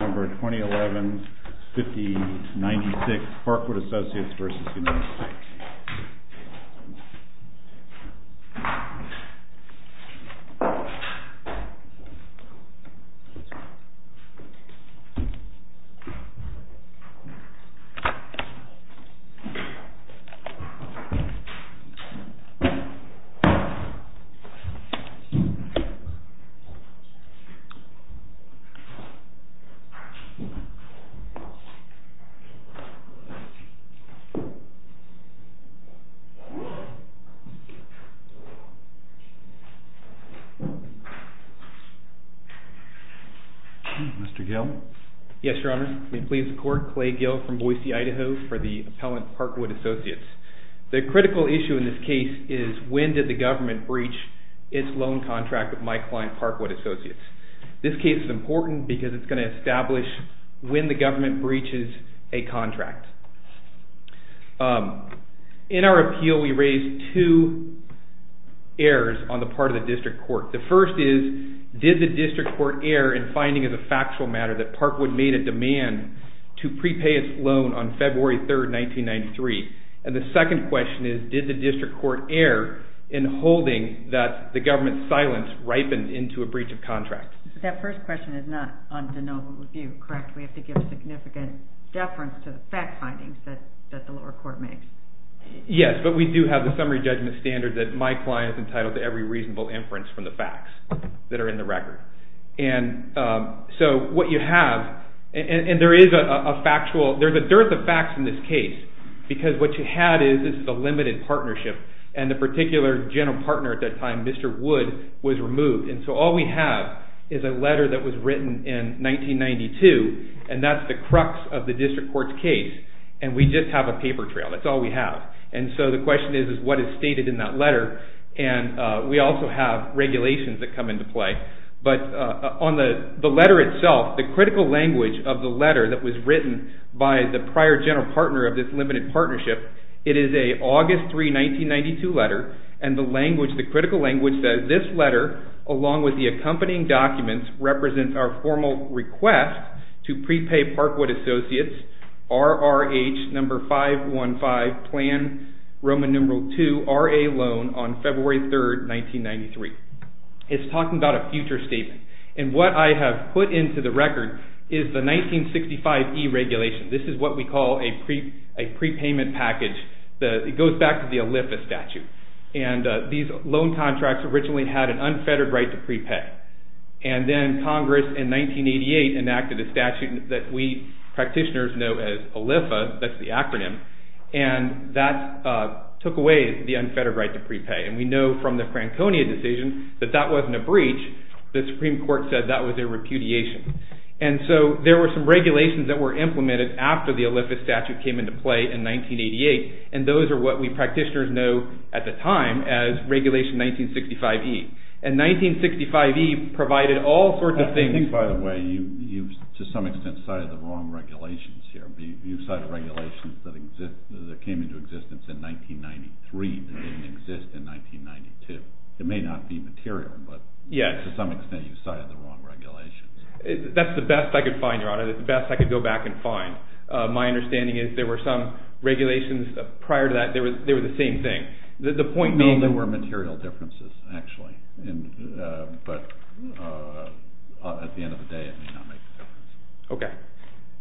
Number 2011-5096 Parkwood Associates v. United States Mr. Gill. Yes, Your Honor. May it please the Court, Clay Gill from Boise, Idaho, for the appellant Parkwood Associates. The critical issue in this case is when did the government breach its loan contract with my client Parkwood Associates. This case is important because it's going to establish when the government breaches a contract. In our appeal, we raised two errors on the part of the district court. The first is, did the district court err in finding as a factual matter that Parkwood made a demand to prepay its loan on February 3, 1993? And the second question is, did the district court err in holding that the government's contract? That first question is not on de novo review, correct? We have to give a significant deference to the fact findings that the lower court makes. Yes, but we do have the summary judgment standard that my client is entitled to every reasonable inference from the facts that are in the record. And so what you have, and there is a factual, there's a dearth of facts in this case, because what you had is, this is a limited partnership, and the particular general partner at that time, Mr. Wood, was removed. And so all we have is a letter that was written in 1992, and that's the crux of the district court's case. And we just have a paper trail. That's all we have. And so the question is, is what is stated in that letter? And we also have regulations that come into play. But on the letter itself, the critical language of the letter that was written by the prior general partner of this 1992 letter, and the language, the critical language that this letter, along with the accompanying documents, represents our formal request to prepay Parkwood Associates, RRH number 515, plan Roman numeral II, RA loan on February 3rd, 1993. It's talking about a future statement. And what I have put into the record is the 1965E regulation. This is what we call a prepayment package. It goes back to the ALIFA statute. And these loan contracts originally had an unfettered right to prepay. And then Congress, in 1988, enacted a statute that we practitioners know as ALIFA, that's the acronym, and that took away the unfettered right to prepay. And we know from the Franconia decision that that wasn't a breach. The Supreme Court said that was a repudiation. And so there were some regulations that were implemented after the ALIFA statute came into play in 1988. And those are what we practitioners know at the time as Regulation 1965E. And 1965E provided all sorts of things. I think, by the way, you've, to some extent, cited the wrong regulations here. You've cited regulations that came into existence in 1993 that didn't exist in 1992. It may not be material, but to some extent you cited the wrong regulations. That's the best I could find, go back and find. My understanding is there were some regulations prior to that, they were the same thing. The point being... No, there were material differences, actually. But at the end of the day, it may not make a difference. Okay.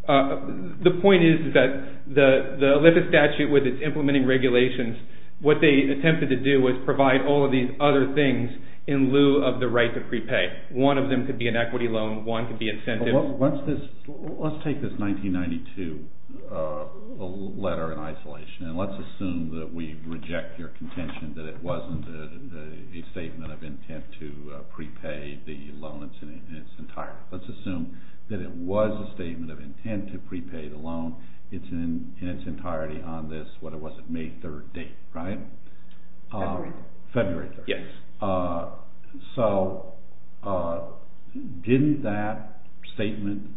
The point is that the ALIFA statute, with its implementing regulations, what they attempted to do was provide all of these other things in lieu of the right to prepay. One of them could be an equity loan. One could be incentives. Let's take this 1992 letter in isolation, and let's assume that we reject your contention that it wasn't a statement of intent to prepay the loan in its entirety. Let's assume that it was a statement of intent to prepay the loan in its entirety on this, what it was,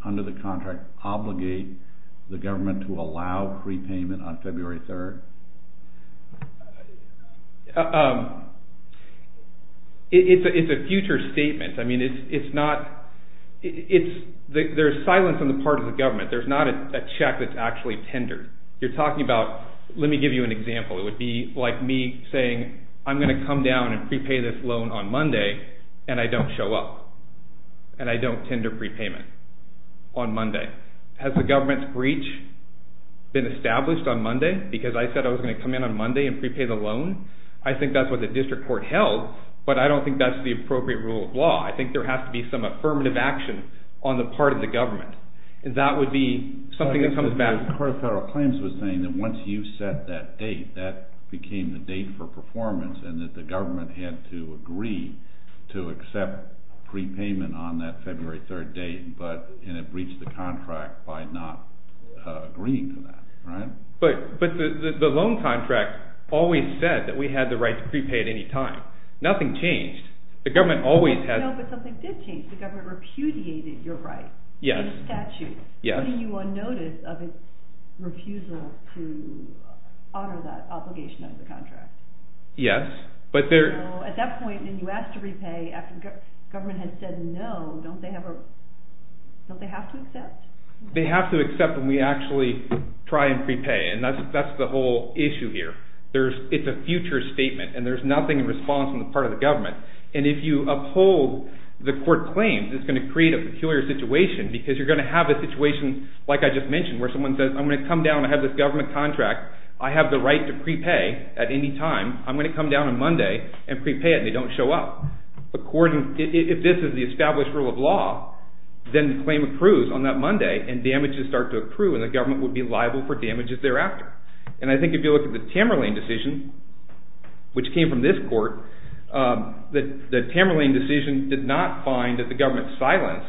under the contract, obligate the government to allow prepayment on February 3rd? It's a future statement. There's silence on the part of the government. There's not a check that's actually tendered. You're talking about... Let me give you an example. It would be like me saying, I'm going to come down and prepay this loan on Monday, and I don't show up, and I don't tender prepayment on Monday. Has the government's breach been established on Monday, because I said I was going to come in on Monday and prepay the loan? I think that's what the district court held, but I don't think that's the appropriate rule of law. I think there has to be some affirmative action on the part of the government, and that would be something that comes back... The Court of Federal Claims was saying that once you set that date, that became the date for performance, and that the government had to agree to accept prepayment on that February 3rd date, and it breached the contract by not agreeing to that. But the loan contract always said that we had the right to prepay at any time. Nothing changed. The government always had... No, but something did change. The government repudiated your right. Yes. In the statute. Yes. And then you were on notice of its refusal to honor that obligation under the contract. Yes, but there... At that point, when you asked to repay after the government had said no, don't they have to accept? They have to accept when we actually try and prepay, and that's the whole issue here. It's a future statement, and there's nothing in response on the part of the government. And if you uphold the court claims, it's going to create a peculiar situation, because you're going to see, like I just mentioned, where someone says, I'm going to come down, I have this government contract, I have the right to prepay at any time, I'm going to come down on Monday and prepay it, and they don't show up. If this is the established rule of law, then the claim accrues on that Monday, and damages start to accrue, and the government would be liable for damages thereafter. And I think if you look at the Tamerlane decision, which came from this court, the Tamerlane decision did not find that the government went silent,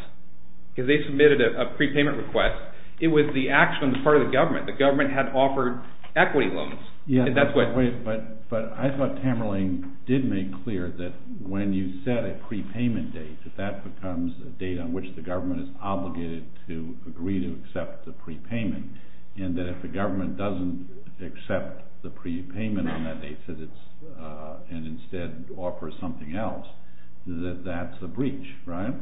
because they submitted a prepayment request. It was the action on the part of the government. The government had offered equity loans. But I thought Tamerlane did make clear that when you set a prepayment date, that that becomes a date on which the government is obligated to agree to accept the prepayment, and that if the government doesn't accept the prepayment on that date, and instead offers something else, that that's a breach, right?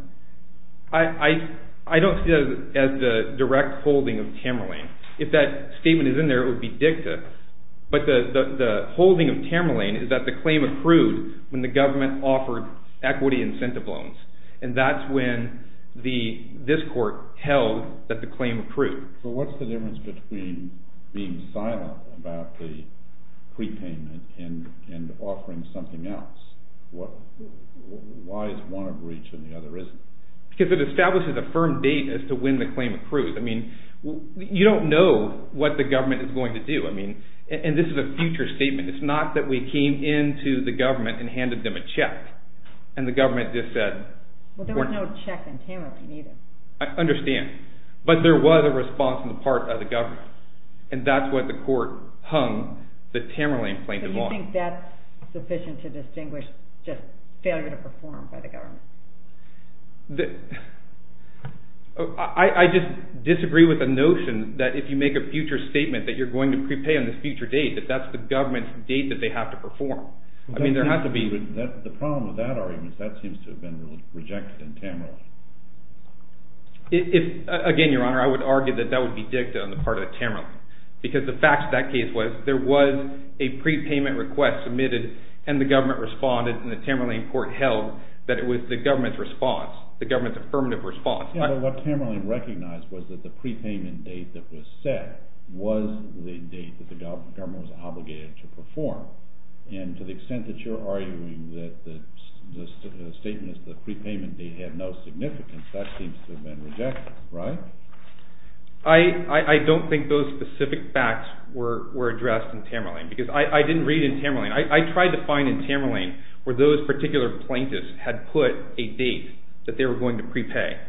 I don't see that as the direct holding of Tamerlane. If that statement is in there, it would be dicta. But the holding of Tamerlane is that the claim accrued when the government offered equity incentive loans. And that's when this court held that the claim accrued. So what's the difference between being silent about the prepayment and offering something else? Why is one a breach and the other isn't? Because it establishes a firm date as to when the claim accrued. I mean, you don't know what the government is going to do. And this is a future statement. It's not that we came into the government and handed them a check, and the government just said... Well, there was no check in Tamerlane either. I understand. But there was a response on the part of the government. And that's what the court hung the Tamerlane claim to be on. Do you think that's sufficient to distinguish just failure to perform by the government? I just disagree with the notion that if you make a future statement that you're going to prepay on this future date, that that's the government's date that they have to perform. I mean, there has to be... The problem with that argument is that seems to have been rejected in Tamerlane. Again, Your Honor, I would argue that that would be dicta on the part of Tamerlane. Because the fact of that case was, there was a prepayment request submitted, and the government responded, and the Tamerlane court held that it was the government's response, the government's affirmative response. But what Tamerlane recognized was that the prepayment date that was set was the date that the government was obligated to perform. And to the extent that you're arguing that the statement is the prepayment date had no significance, that seems to have been rejected, right? I don't think those specific facts were addressed in Tamerlane. Because I didn't read in Tamerlane. I tried to find in Tamerlane where those particular plaintiffs had put a date that they were going to prepay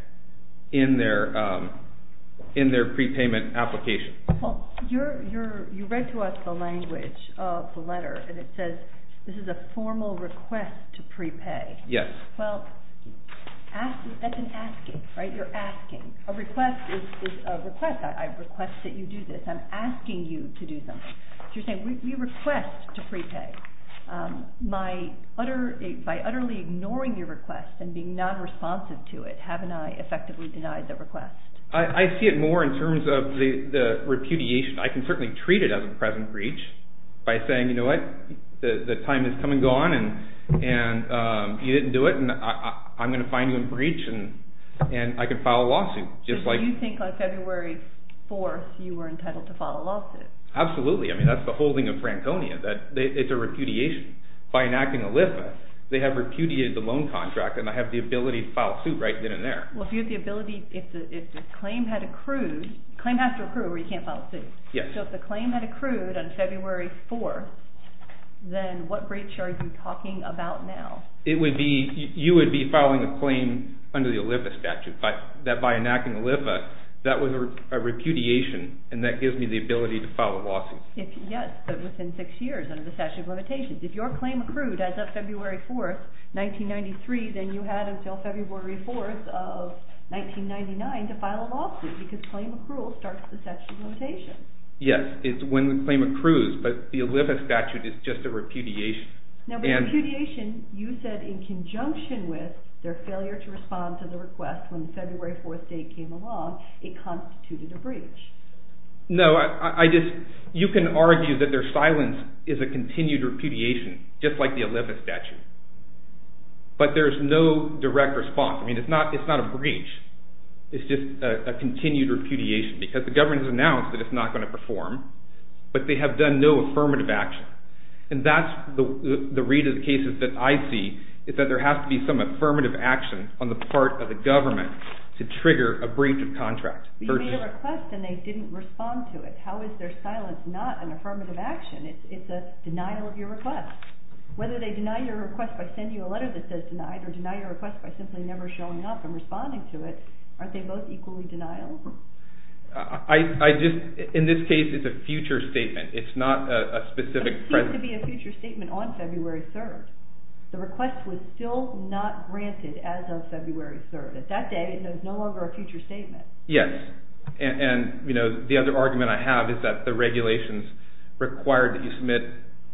in their prepayment application. Well, you read to us the language of the letter, and it says this is a formal request to prepay. Yes. Well, that's an asking, right? You're asking. A request is a request. I request that you do this. I'm asking you to do something. So you're saying we request to prepay. By utterly ignoring your request and being non-responsive to it, haven't I effectively denied the request? I see it more in terms of the repudiation. I can certainly treat it as a present breach by saying, you know what, the time has come and gone, and you didn't do it, and I'm going to find you and breach, and I can file a lawsuit. So you think on February 4th you were entitled to file a lawsuit? Absolutely. I mean, that's the whole thing of Franconia, that it's a repudiation. By enacting a list, they have repudiated the loan contract, and I have the ability to file a suit right then and there. Well, if you have the ability, if the claim had accrued, a claim has to accrue or you can't file a suit. Yes. So if the claim had accrued on February 4th, then what breach are you talking about now? You would be filing a claim under the OLIPA statute, that by enacting OLIPA, that was a repudiation, and that gives me the ability to file a lawsuit. Yes, but within six years under the statute of limitations. If your claim accrued as of February 4th, 1993, then you had until February 4th of 1999 to file a lawsuit because claim accrual starts at the statute of limitations. Yes, it's when the claim accrues, but the OLIPA statute is just a repudiation. Now, the repudiation, you said in conjunction with their failure to respond to the request when the February 4th date came along, it constituted a breach. No, I just, you can argue that their silence is a continued repudiation, just like the OLIPA statute, but there's no direct response. I mean, it's not a breach. It's just a continued repudiation because the government has announced that it's not going to perform, but they have done no affirmative action. And that's the read of the cases that I see is that there has to be some affirmative action on the part of the government to trigger a breach of contract. You made a request and they didn't respond to it. How is their silence not an affirmative action? It's a denial of your request. Whether they deny your request by sending you a letter that says denied or deny your request by simply never showing up and responding to it, aren't they both equally denial? I just, in this case, it's a future statement. It's not a specific present. It seems to be a future statement on February 3rd. The request was still not granted as of February 3rd. At that day, it's no longer a future statement. Yes. And, you know, the other argument I have is that the regulations required that you submit,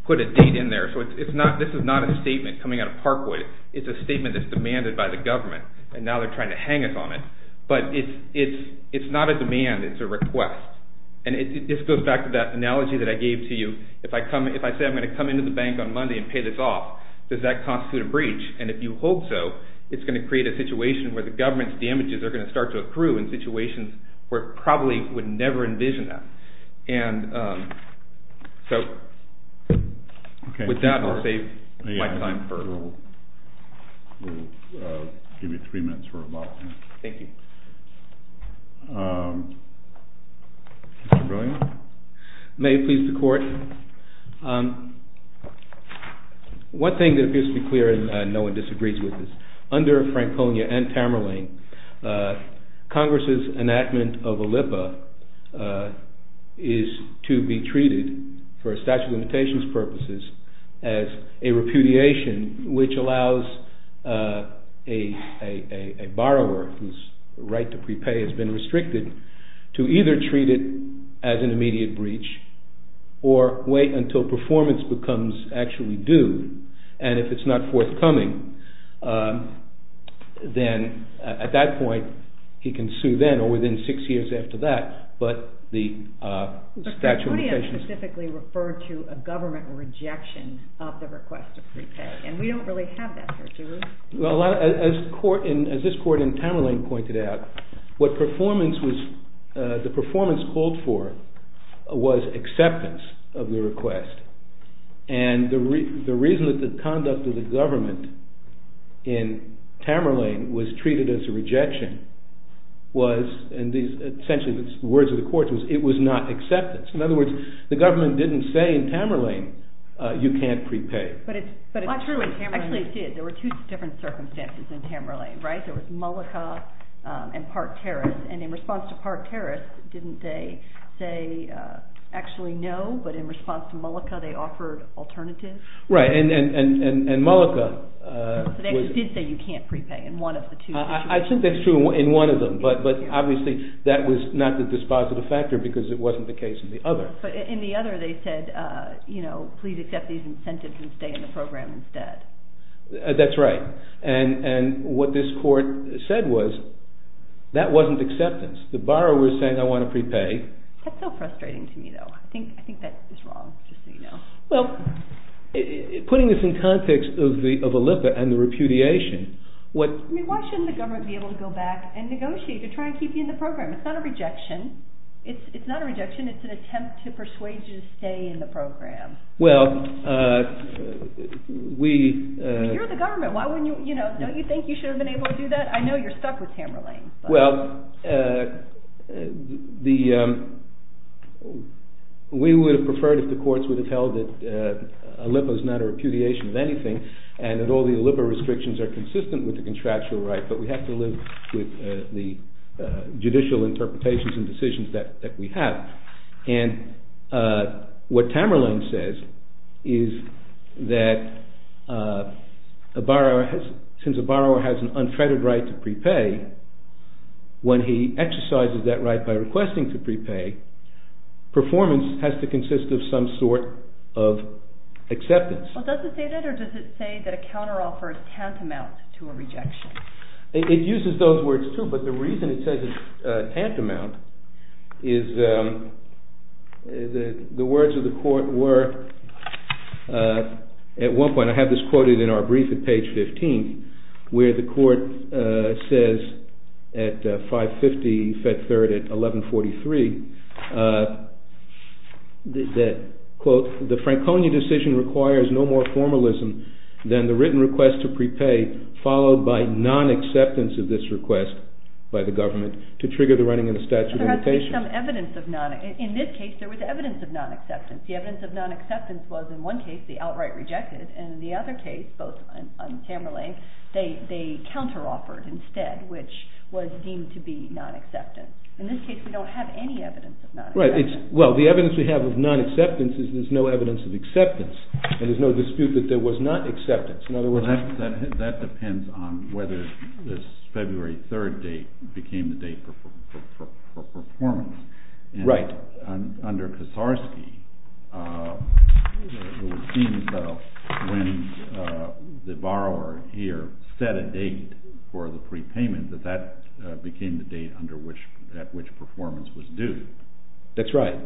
put a date in there. So this is not a statement coming out of Parkwood. It's a statement that's demanded by the government, and now they're trying to hang us on it. But it's not a demand. It's a request. And this goes back to that analogy that I gave to you. If I say I'm going to come into the bank on Monday and pay this off, does that constitute a breach? And if you hope so, it's going to create a situation where the government's damages are going to start to accrue in situations where it probably would never envision that. And so with that, I'll save my time. We'll give you three minutes for rebuttal. Thank you. May it please the Court. One thing that appears to be clear, and no one disagrees with this, under Franconia and Tamerlane, Congress' enactment of a LIPA is to be treated for statute of limitations purposes as a repudiation, which allows a borrower whose right to prepay has been restricted to either treat it as an immediate breach or wait until performance becomes actually due. And if it's not forthcoming, then at that point, he can sue then or within six years after that. Franconia specifically referred to a government rejection of the request to prepay, and we don't really have that here, do we? As this Court in Tamerlane pointed out, what the performance called for was acceptance of the request. And the reason that the conduct of the government in Tamerlane was treated as a rejection was, and essentially the words of the Court was, it was not acceptance. In other words, the government didn't say in Tamerlane, you can't prepay. But it's true in Tamerlane. Actually, it did. There were two different circumstances in Tamerlane, right? There was Mullica and Park Terrace. And in response to Park Terrace, didn't they say actually no, but in response to Mullica, they offered alternatives? Right, and Mullica was... They did say you can't prepay in one of the two. I think that's true in one of them, but obviously that was not the dispositive factor because it wasn't the case in the other. But in the other, they said, you know, please accept these incentives and stay in the program instead. That's right. And what this Court said was, that wasn't acceptance. The borrower was saying, I want to prepay. That's so frustrating to me, though. I think that is wrong, just so you know. Well, putting this in context of Olipa and the repudiation, what... I mean, why shouldn't the government be able to go back and negotiate to try and keep you in the program? It's not a rejection. It's not a rejection. It's an attempt to persuade you to stay in the program. Well, we... You're the government. Don't you think you should have been able to do that? I know you're stuck with Tamerlane. Well, we would have preferred if the courts would have held that Olipa is not a repudiation of anything, and that all the Olipa restrictions are consistent with the contractual right, but we have to live with the judicial interpretations and decisions that we have. And what Tamerlane says is that since a borrower has an unfettered right to prepay, when he exercises that right by requesting to prepay, performance has to consist of some sort of acceptance. Well, does it say that, or does it say that a counteroffer is tantamount to a rejection? It uses those words, too, but the reason it says it's tantamount is the words of the court were... At one point, I have this quoted in our brief at page 15, where the court says at 5.50 Fed Third at 11.43, that, quote, the Franconia decision requires no more formalism than the written request to prepay, followed by non-acceptance of this request by the government to trigger the running of the statute of limitations. But there has to be some evidence of non-acceptance. In this case, there was evidence of non-acceptance. The evidence of non-acceptance was, in one case, the outright rejected, and in the other case, both on Tamerlane, they counteroffered instead, which was deemed to be non-acceptance. In this case, we don't have any evidence of non-acceptance. Right. Well, the evidence we have of non-acceptance is there's no evidence of acceptance, and there's no dispute that there was not acceptance. In other words... That depends on whether this February 3rd date became the date for performance. Right. But under Kosarsky, it would seem as though when the borrower here set a date for the prepayment, that that became the date at which performance was due. That's right.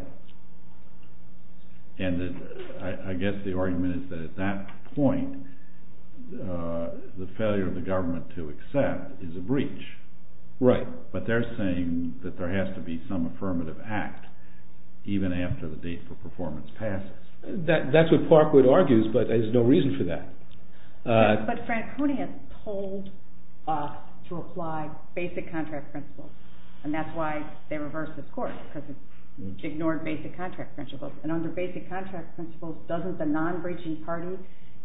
And I guess the argument is that at that point, the failure of the government to accept is a breach. Right. But they're saying that there has to be some affirmative act, even after the date for performance passes. That's what Parkwood argues, but there's no reason for that. But Franconia told us to apply basic contract principles, and that's why they reversed the court, because it ignored basic contract principles. And under basic contract principles, doesn't the non-breaching party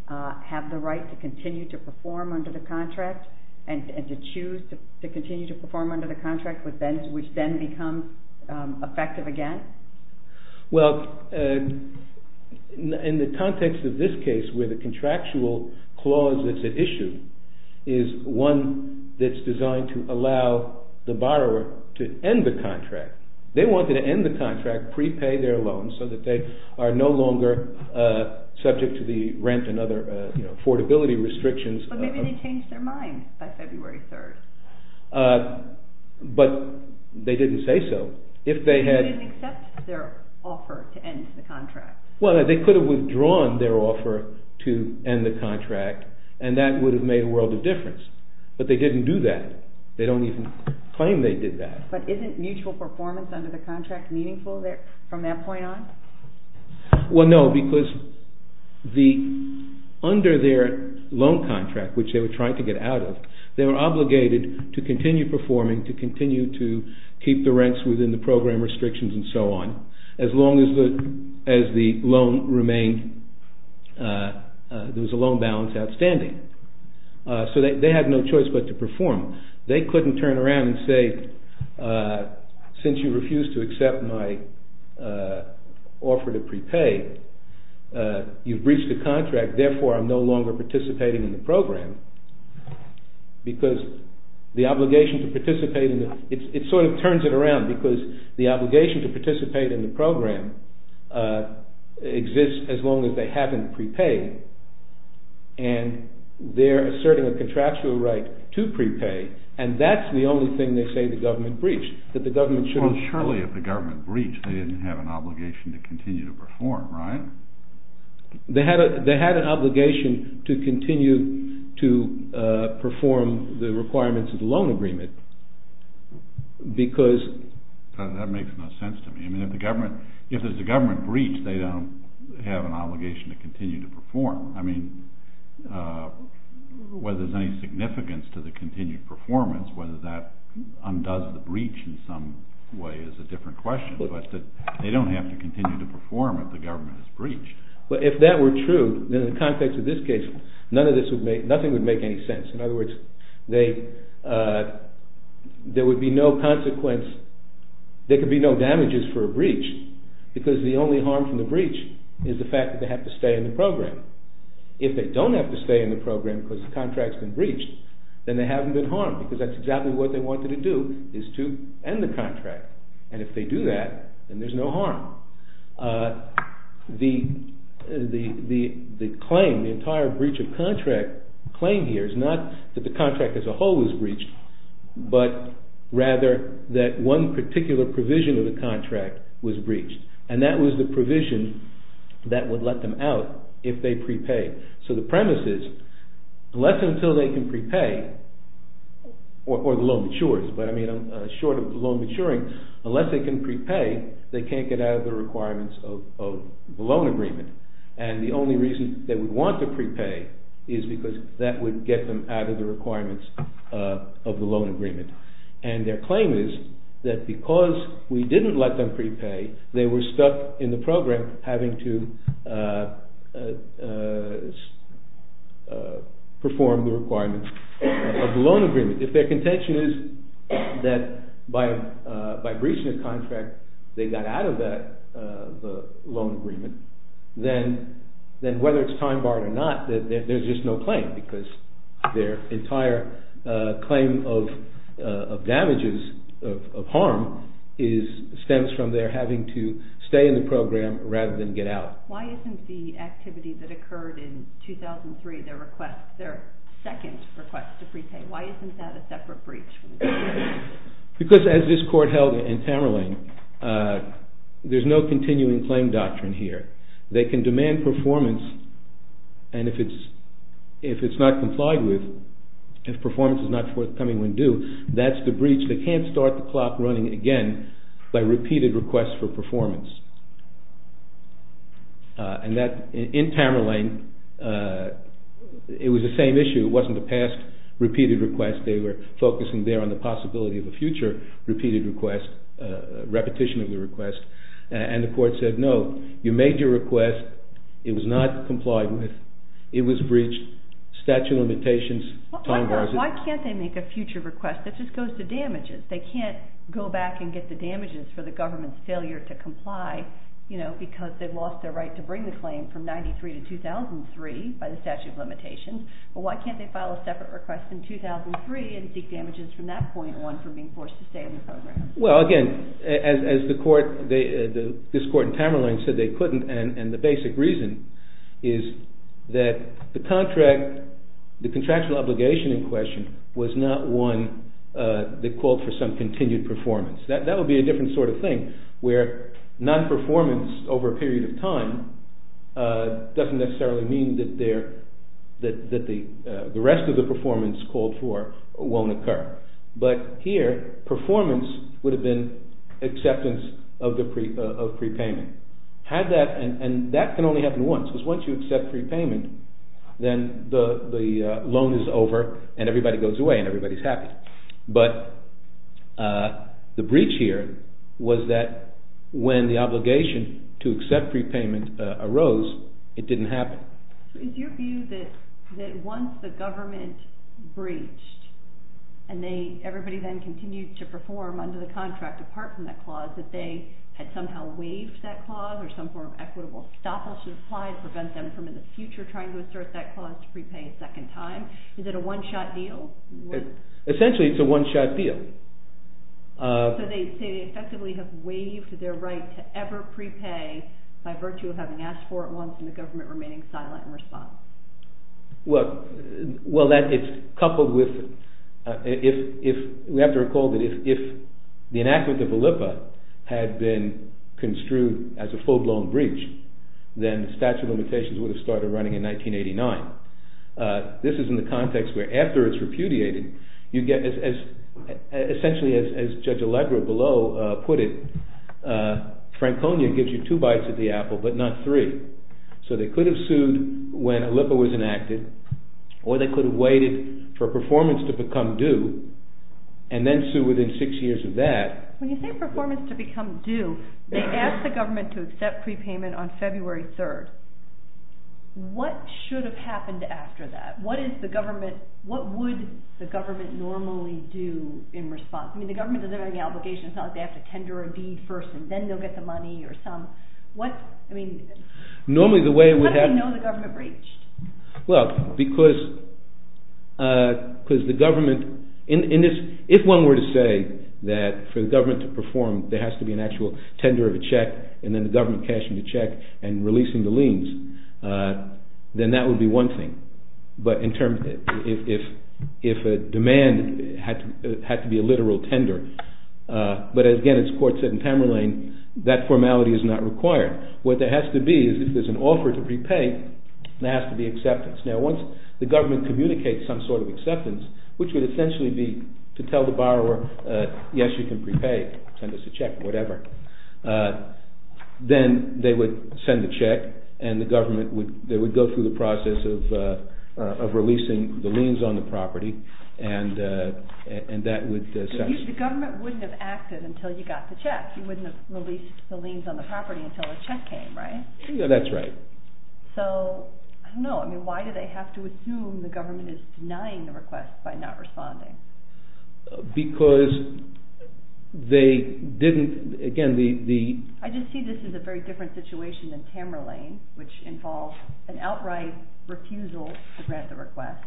have the right to continue to perform under the contract, and to choose to continue to perform under the contract, which then becomes effective again? Well, in the context of this case, where the contractual clause that's at issue is one that's designed to allow the borrower to end the contract. They wanted to end the contract, prepay their loans, so that they are no longer subject to the rent and other affordability restrictions. But maybe they changed their mind by February 3rd. But they didn't say so. They didn't accept their offer to end the contract. Well, they could have withdrawn their offer to end the contract, and that would have made a world of difference. But they didn't do that. They don't even claim they did that. But isn't mutual performance under the contract meaningful from that point on? Well, no, because under their loan contract, which they were trying to get out of, they were obligated to continue performing, to continue to keep the rents within the program restrictions and so on, as long as the loan remained, there was a loan balance outstanding. So they had no choice but to perform. They couldn't turn around and say, since you refused to accept my offer to prepay, you've breached the contract, therefore I'm no longer participating in the program, because the obligation to participate in the, it sort of turns it around, because the obligation to participate in the program exists as long as they haven't prepaid, and they're asserting a contractual right to prepay, and that's the only thing they say the government breached, that the government shouldn't... Well, surely if the government breached, they didn't have an obligation to continue to perform, right? They had an obligation to continue to perform the requirements of the loan agreement, because... That makes no sense to me. I mean, if there's a government breach, they don't have an obligation to continue to perform. I mean, whether there's any significance to the continued performance, whether that undoes the breach in some way is a different question, but they don't have to continue to perform if the government has breached. Well, if that were true, then in the context of this case, nothing would make any sense. In other words, there would be no consequence, there could be no damages for a breach, because the only harm from the breach is the fact that they have to stay in the program. If they don't have to stay in the program because the contract's been breached, then they haven't been harmed, because that's exactly what they wanted to do, is to end the contract, and if they do that, then there's no harm. The claim, the entire breach of contract claim here is not that the contract as a whole was breached, but rather that one particular provision of the contract was breached, and that was the provision that would let them out if they prepaid. So the premise is, unless and until they can prepay, or the loan matures, but I mean short of the loan maturing, unless they can prepay, they can't get out of the requirements of the loan agreement, and the only reason they would want to prepay is because that would get them out of the requirements of the loan agreement. And their claim is that because we didn't let them prepay, they were stuck in the program having to perform the requirements of the loan agreement. If their contention is that by breaching the contract they got out of the loan agreement, then whether it's time barred or not, there's just no claim, because their entire claim of damages, of harm, stems from their having to stay in the program rather than get out. Why isn't the activity that occurred in 2003, their second request to prepay, why isn't that a separate breach? Because as this Court held in Tamerlane, there's no continuing claim doctrine here. They can demand performance, and if it's not complied with, if performance is not forthcoming when due, that's the breach. They can't start the clock running again by repeated requests for performance. And that, in Tamerlane, it was the same issue. It wasn't a past repeated request. They were focusing there on the possibility of a future repeated request, repetition of the request, and the Court said, no, you made your request, it was not complied with, it was breached, statute of limitations. Why can't they make a future request that just goes to damages? They can't go back and get the damages for the government's failure to comply, because they've lost their right to bring the claim from 1993 to 2003 by the statute of limitations, but why can't they file a separate request in 2003 and seek damages from that point on for being forced to stay in the program? Well, again, as this Court in Tamerlane said they couldn't, and the basic reason is that the contract, the contractual obligation in question, was not one that called for some continued performance. That would be a different sort of thing, where non-performance over a period of time doesn't necessarily mean that the rest of the performance called for won't occur. But here, performance would have been acceptance of prepayment. And that can only happen once, because once you accept prepayment, then the loan is over and everybody goes away and everybody's happy. But the breach here was that when the obligation to accept prepayment arose, it didn't happen. So is your view that once the government breached, and everybody then continued to perform under the contract apart from that clause, that they had somehow waived that clause or some form of equitable stoppage was applied to prevent them from in the future trying to assert that clause to prepay a second time? Is it a one-shot deal? Essentially, it's a one-shot deal. So they say they effectively have waived their right to ever prepay by virtue of having asked for it once and the government remaining silent in response. Well, we have to recall that if the enactment of ALIPPA had been construed as a full-blown breach, then the statute of limitations would have started running in 1989. This is in the context where after it's repudiated, you get essentially as Judge Allegra below put it, Franconia gives you two bites of the apple but not three. So they could have sued when ALIPPA was enacted or they could have waited for performance to become due and then sue within six years of that. When you say performance to become due, they asked the government to accept prepayment on February 3rd. What should have happened after that? What would the government normally do in response? I mean, the government doesn't have any obligation. It's not like they have to tender a deed first and then they'll get the money or some. Normally the way we have... How do they know the government breached? Well, because the government... If one were to say that for the government to perform, there has to be an actual tender of a check and then the government cashing the check and releasing the liens, then that would be one thing. But if a demand had to be a literal tender, but again as the court said in Tamerlane, that formality is not required. What there has to be is if there's an offer to prepay, there has to be acceptance. Now once the government communicates some sort of acceptance, which would essentially be to tell the borrower, yes, you can prepay. Send us a check or whatever. Then they would send the check and they would go through the process of releasing the liens on the property and that would... The government wouldn't have acted until you got the check. In fact, you wouldn't have released the liens on the property until the check came, right? Yeah, that's right. So, I don't know. I mean, why do they have to assume the government is denying the request by not responding? Because they didn't... Again, the... I just see this as a very different situation than Tamerlane, which involves an outright refusal to grant the request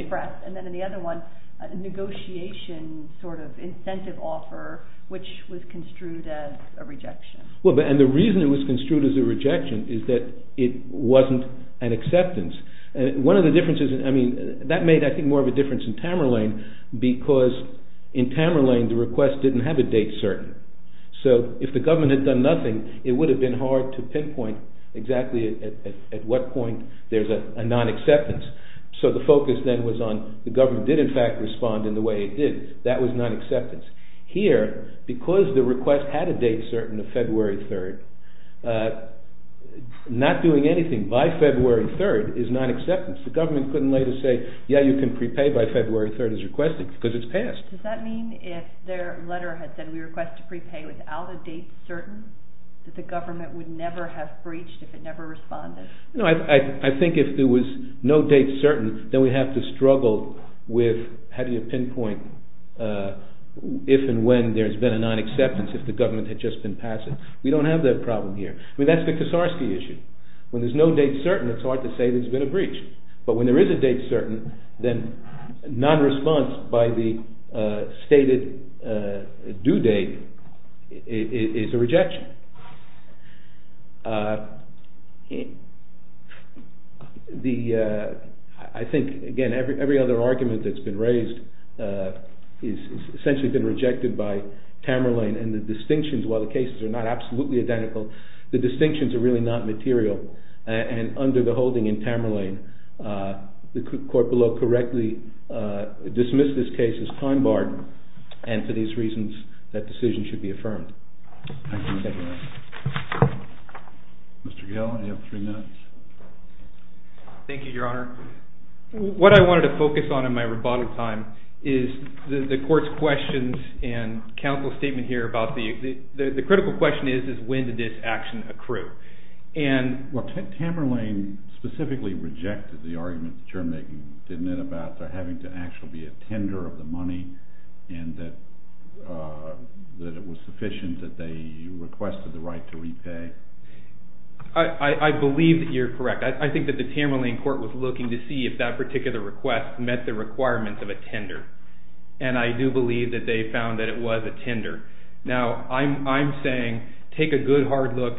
expressed. And then in the other one, a negotiation sort of incentive offer, which was construed as a rejection. Well, and the reason it was construed as a rejection is that it wasn't an acceptance. One of the differences... I mean, that made, I think, more of a difference in Tamerlane because in Tamerlane, the request didn't have a date certain. So, if the government had done nothing, it would have been hard to pinpoint exactly at what point there's a non-acceptance. So, the focus then was on the government did, in fact, respond in the way it did. That was non-acceptance. Here, because the request had a date certain of February 3rd, not doing anything by February 3rd is non-acceptance. The government couldn't later say, yeah, you can prepay by February 3rd as requested because it's passed. Does that mean if their letter had said, we request to prepay without a date certain, that the government would never have breached if it never responded? No, I think if there was no date certain, then we have to struggle with how do you pinpoint if and when there's been a non-acceptance if the government had just been passive. We don't have that problem here. I mean, that's the Kosarsky issue. When there's no date certain, it's hard to say there's been a breach. But when there is a date certain, then non-response by the stated due date is a rejection. I think, again, every other argument that's been raised has essentially been rejected by Tamerlane. And the distinctions, while the cases are not absolutely identical, the distinctions are really not material. And under the holding in Tamerlane, the court below correctly dismissed this case as time-barred and for these reasons that decision should be affirmed. Thank you. Mr. Gale, you have three minutes. Thank you, Your Honor. What I wanted to focus on in my rebuttal time is the court's questions and counsel's statement here about the... The critical question is, is when did this action accrue? And... Well, Tamerlane specifically rejected the argument that you're making, didn't it, about there having to actually be a tender of the money and that it was sufficient that they requested the right to repay? I believe that you're correct. I think that the Tamerlane court was looking to see if that particular request met the requirements of a tender. And I do believe that they found that it was a tender. Now, I'm saying take a good, hard look.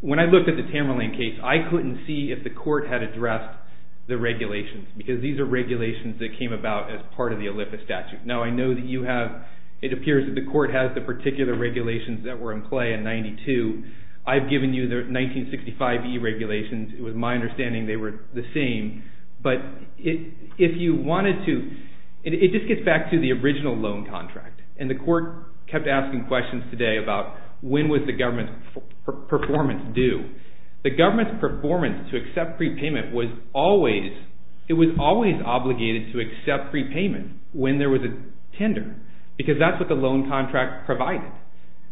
When I looked at the Tamerlane case, I couldn't see if the court had addressed the regulations because these are regulations that came about as part of the Olympic statute. Now, I know that you have... It appears that the court has the particular regulations that were in play in 92. I've given you the 1965e regulations. It was my understanding they were the same. But if you wanted to... It just gets back to the original loan contract. And the court kept asking questions today about when was the government's performance due. The government's performance to accept prepayment was always... It was always obligated to accept prepayment when there was a tender because that's what the loan contract provided,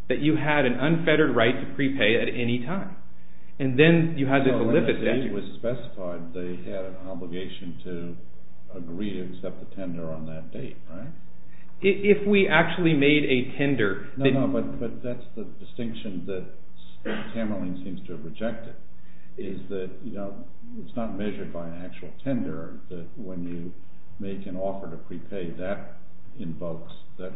that you had an unfettered right to prepay at any time. And then you had the Olympic statute... It was specified they had an obligation to agree to accept the tender on that date, right? If we actually made a tender... No, no, but that's the distinction that Tamerlane seems to have rejected is that it's not measured by an actual tender, that when you make an offer to prepay, that invokes the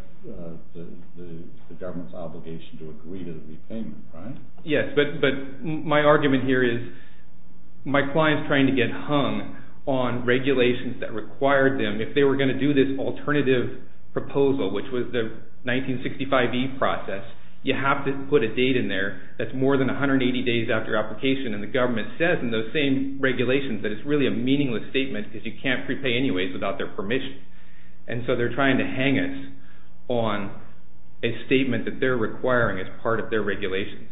government's obligation to agree to the repayment, right? Yes, but my argument here is my client's trying to get hung on regulations that required them. If they were going to do this alternative proposal, which was the 1965e process, you have to put a date in there that's more than 180 days after application, and the government says in those same regulations that it's really a meaningless statement because you can't prepay anyways without their permission. And so they're trying to hang us on a statement that they're requiring as part of their regulations.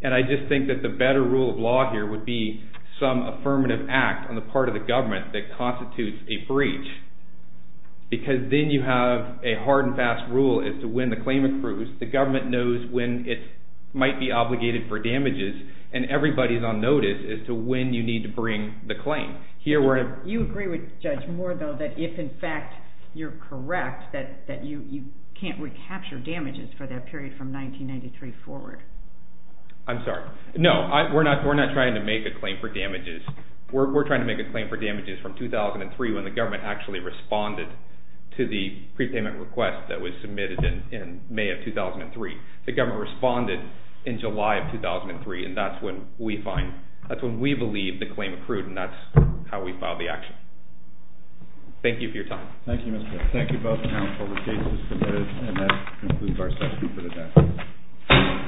And I just think that the better rule of law here would be some affirmative act on the part of the government that constitutes a breach, because then you have a hard and fast rule as to when the claim accrues, the government knows when it might be obligated for damages, and everybody's on notice as to when you need to bring the claim. You agree with Judge Moore, though, that if, in fact, you're correct, that you can't recapture damages for that period from 1993 forward. I'm sorry. No, we're not trying to make a claim for damages. We're trying to make a claim for damages from 2003, when the government actually responded to the prepayment request that was submitted in May of 2003. The government responded in July of 2003, and that's when we find... that's when we believe the claim accrued, and that's how we file the action. Thank you for your time. Thank you, Mr. Hicks. Thank you both for how appropriate this is, and that concludes our session for the day.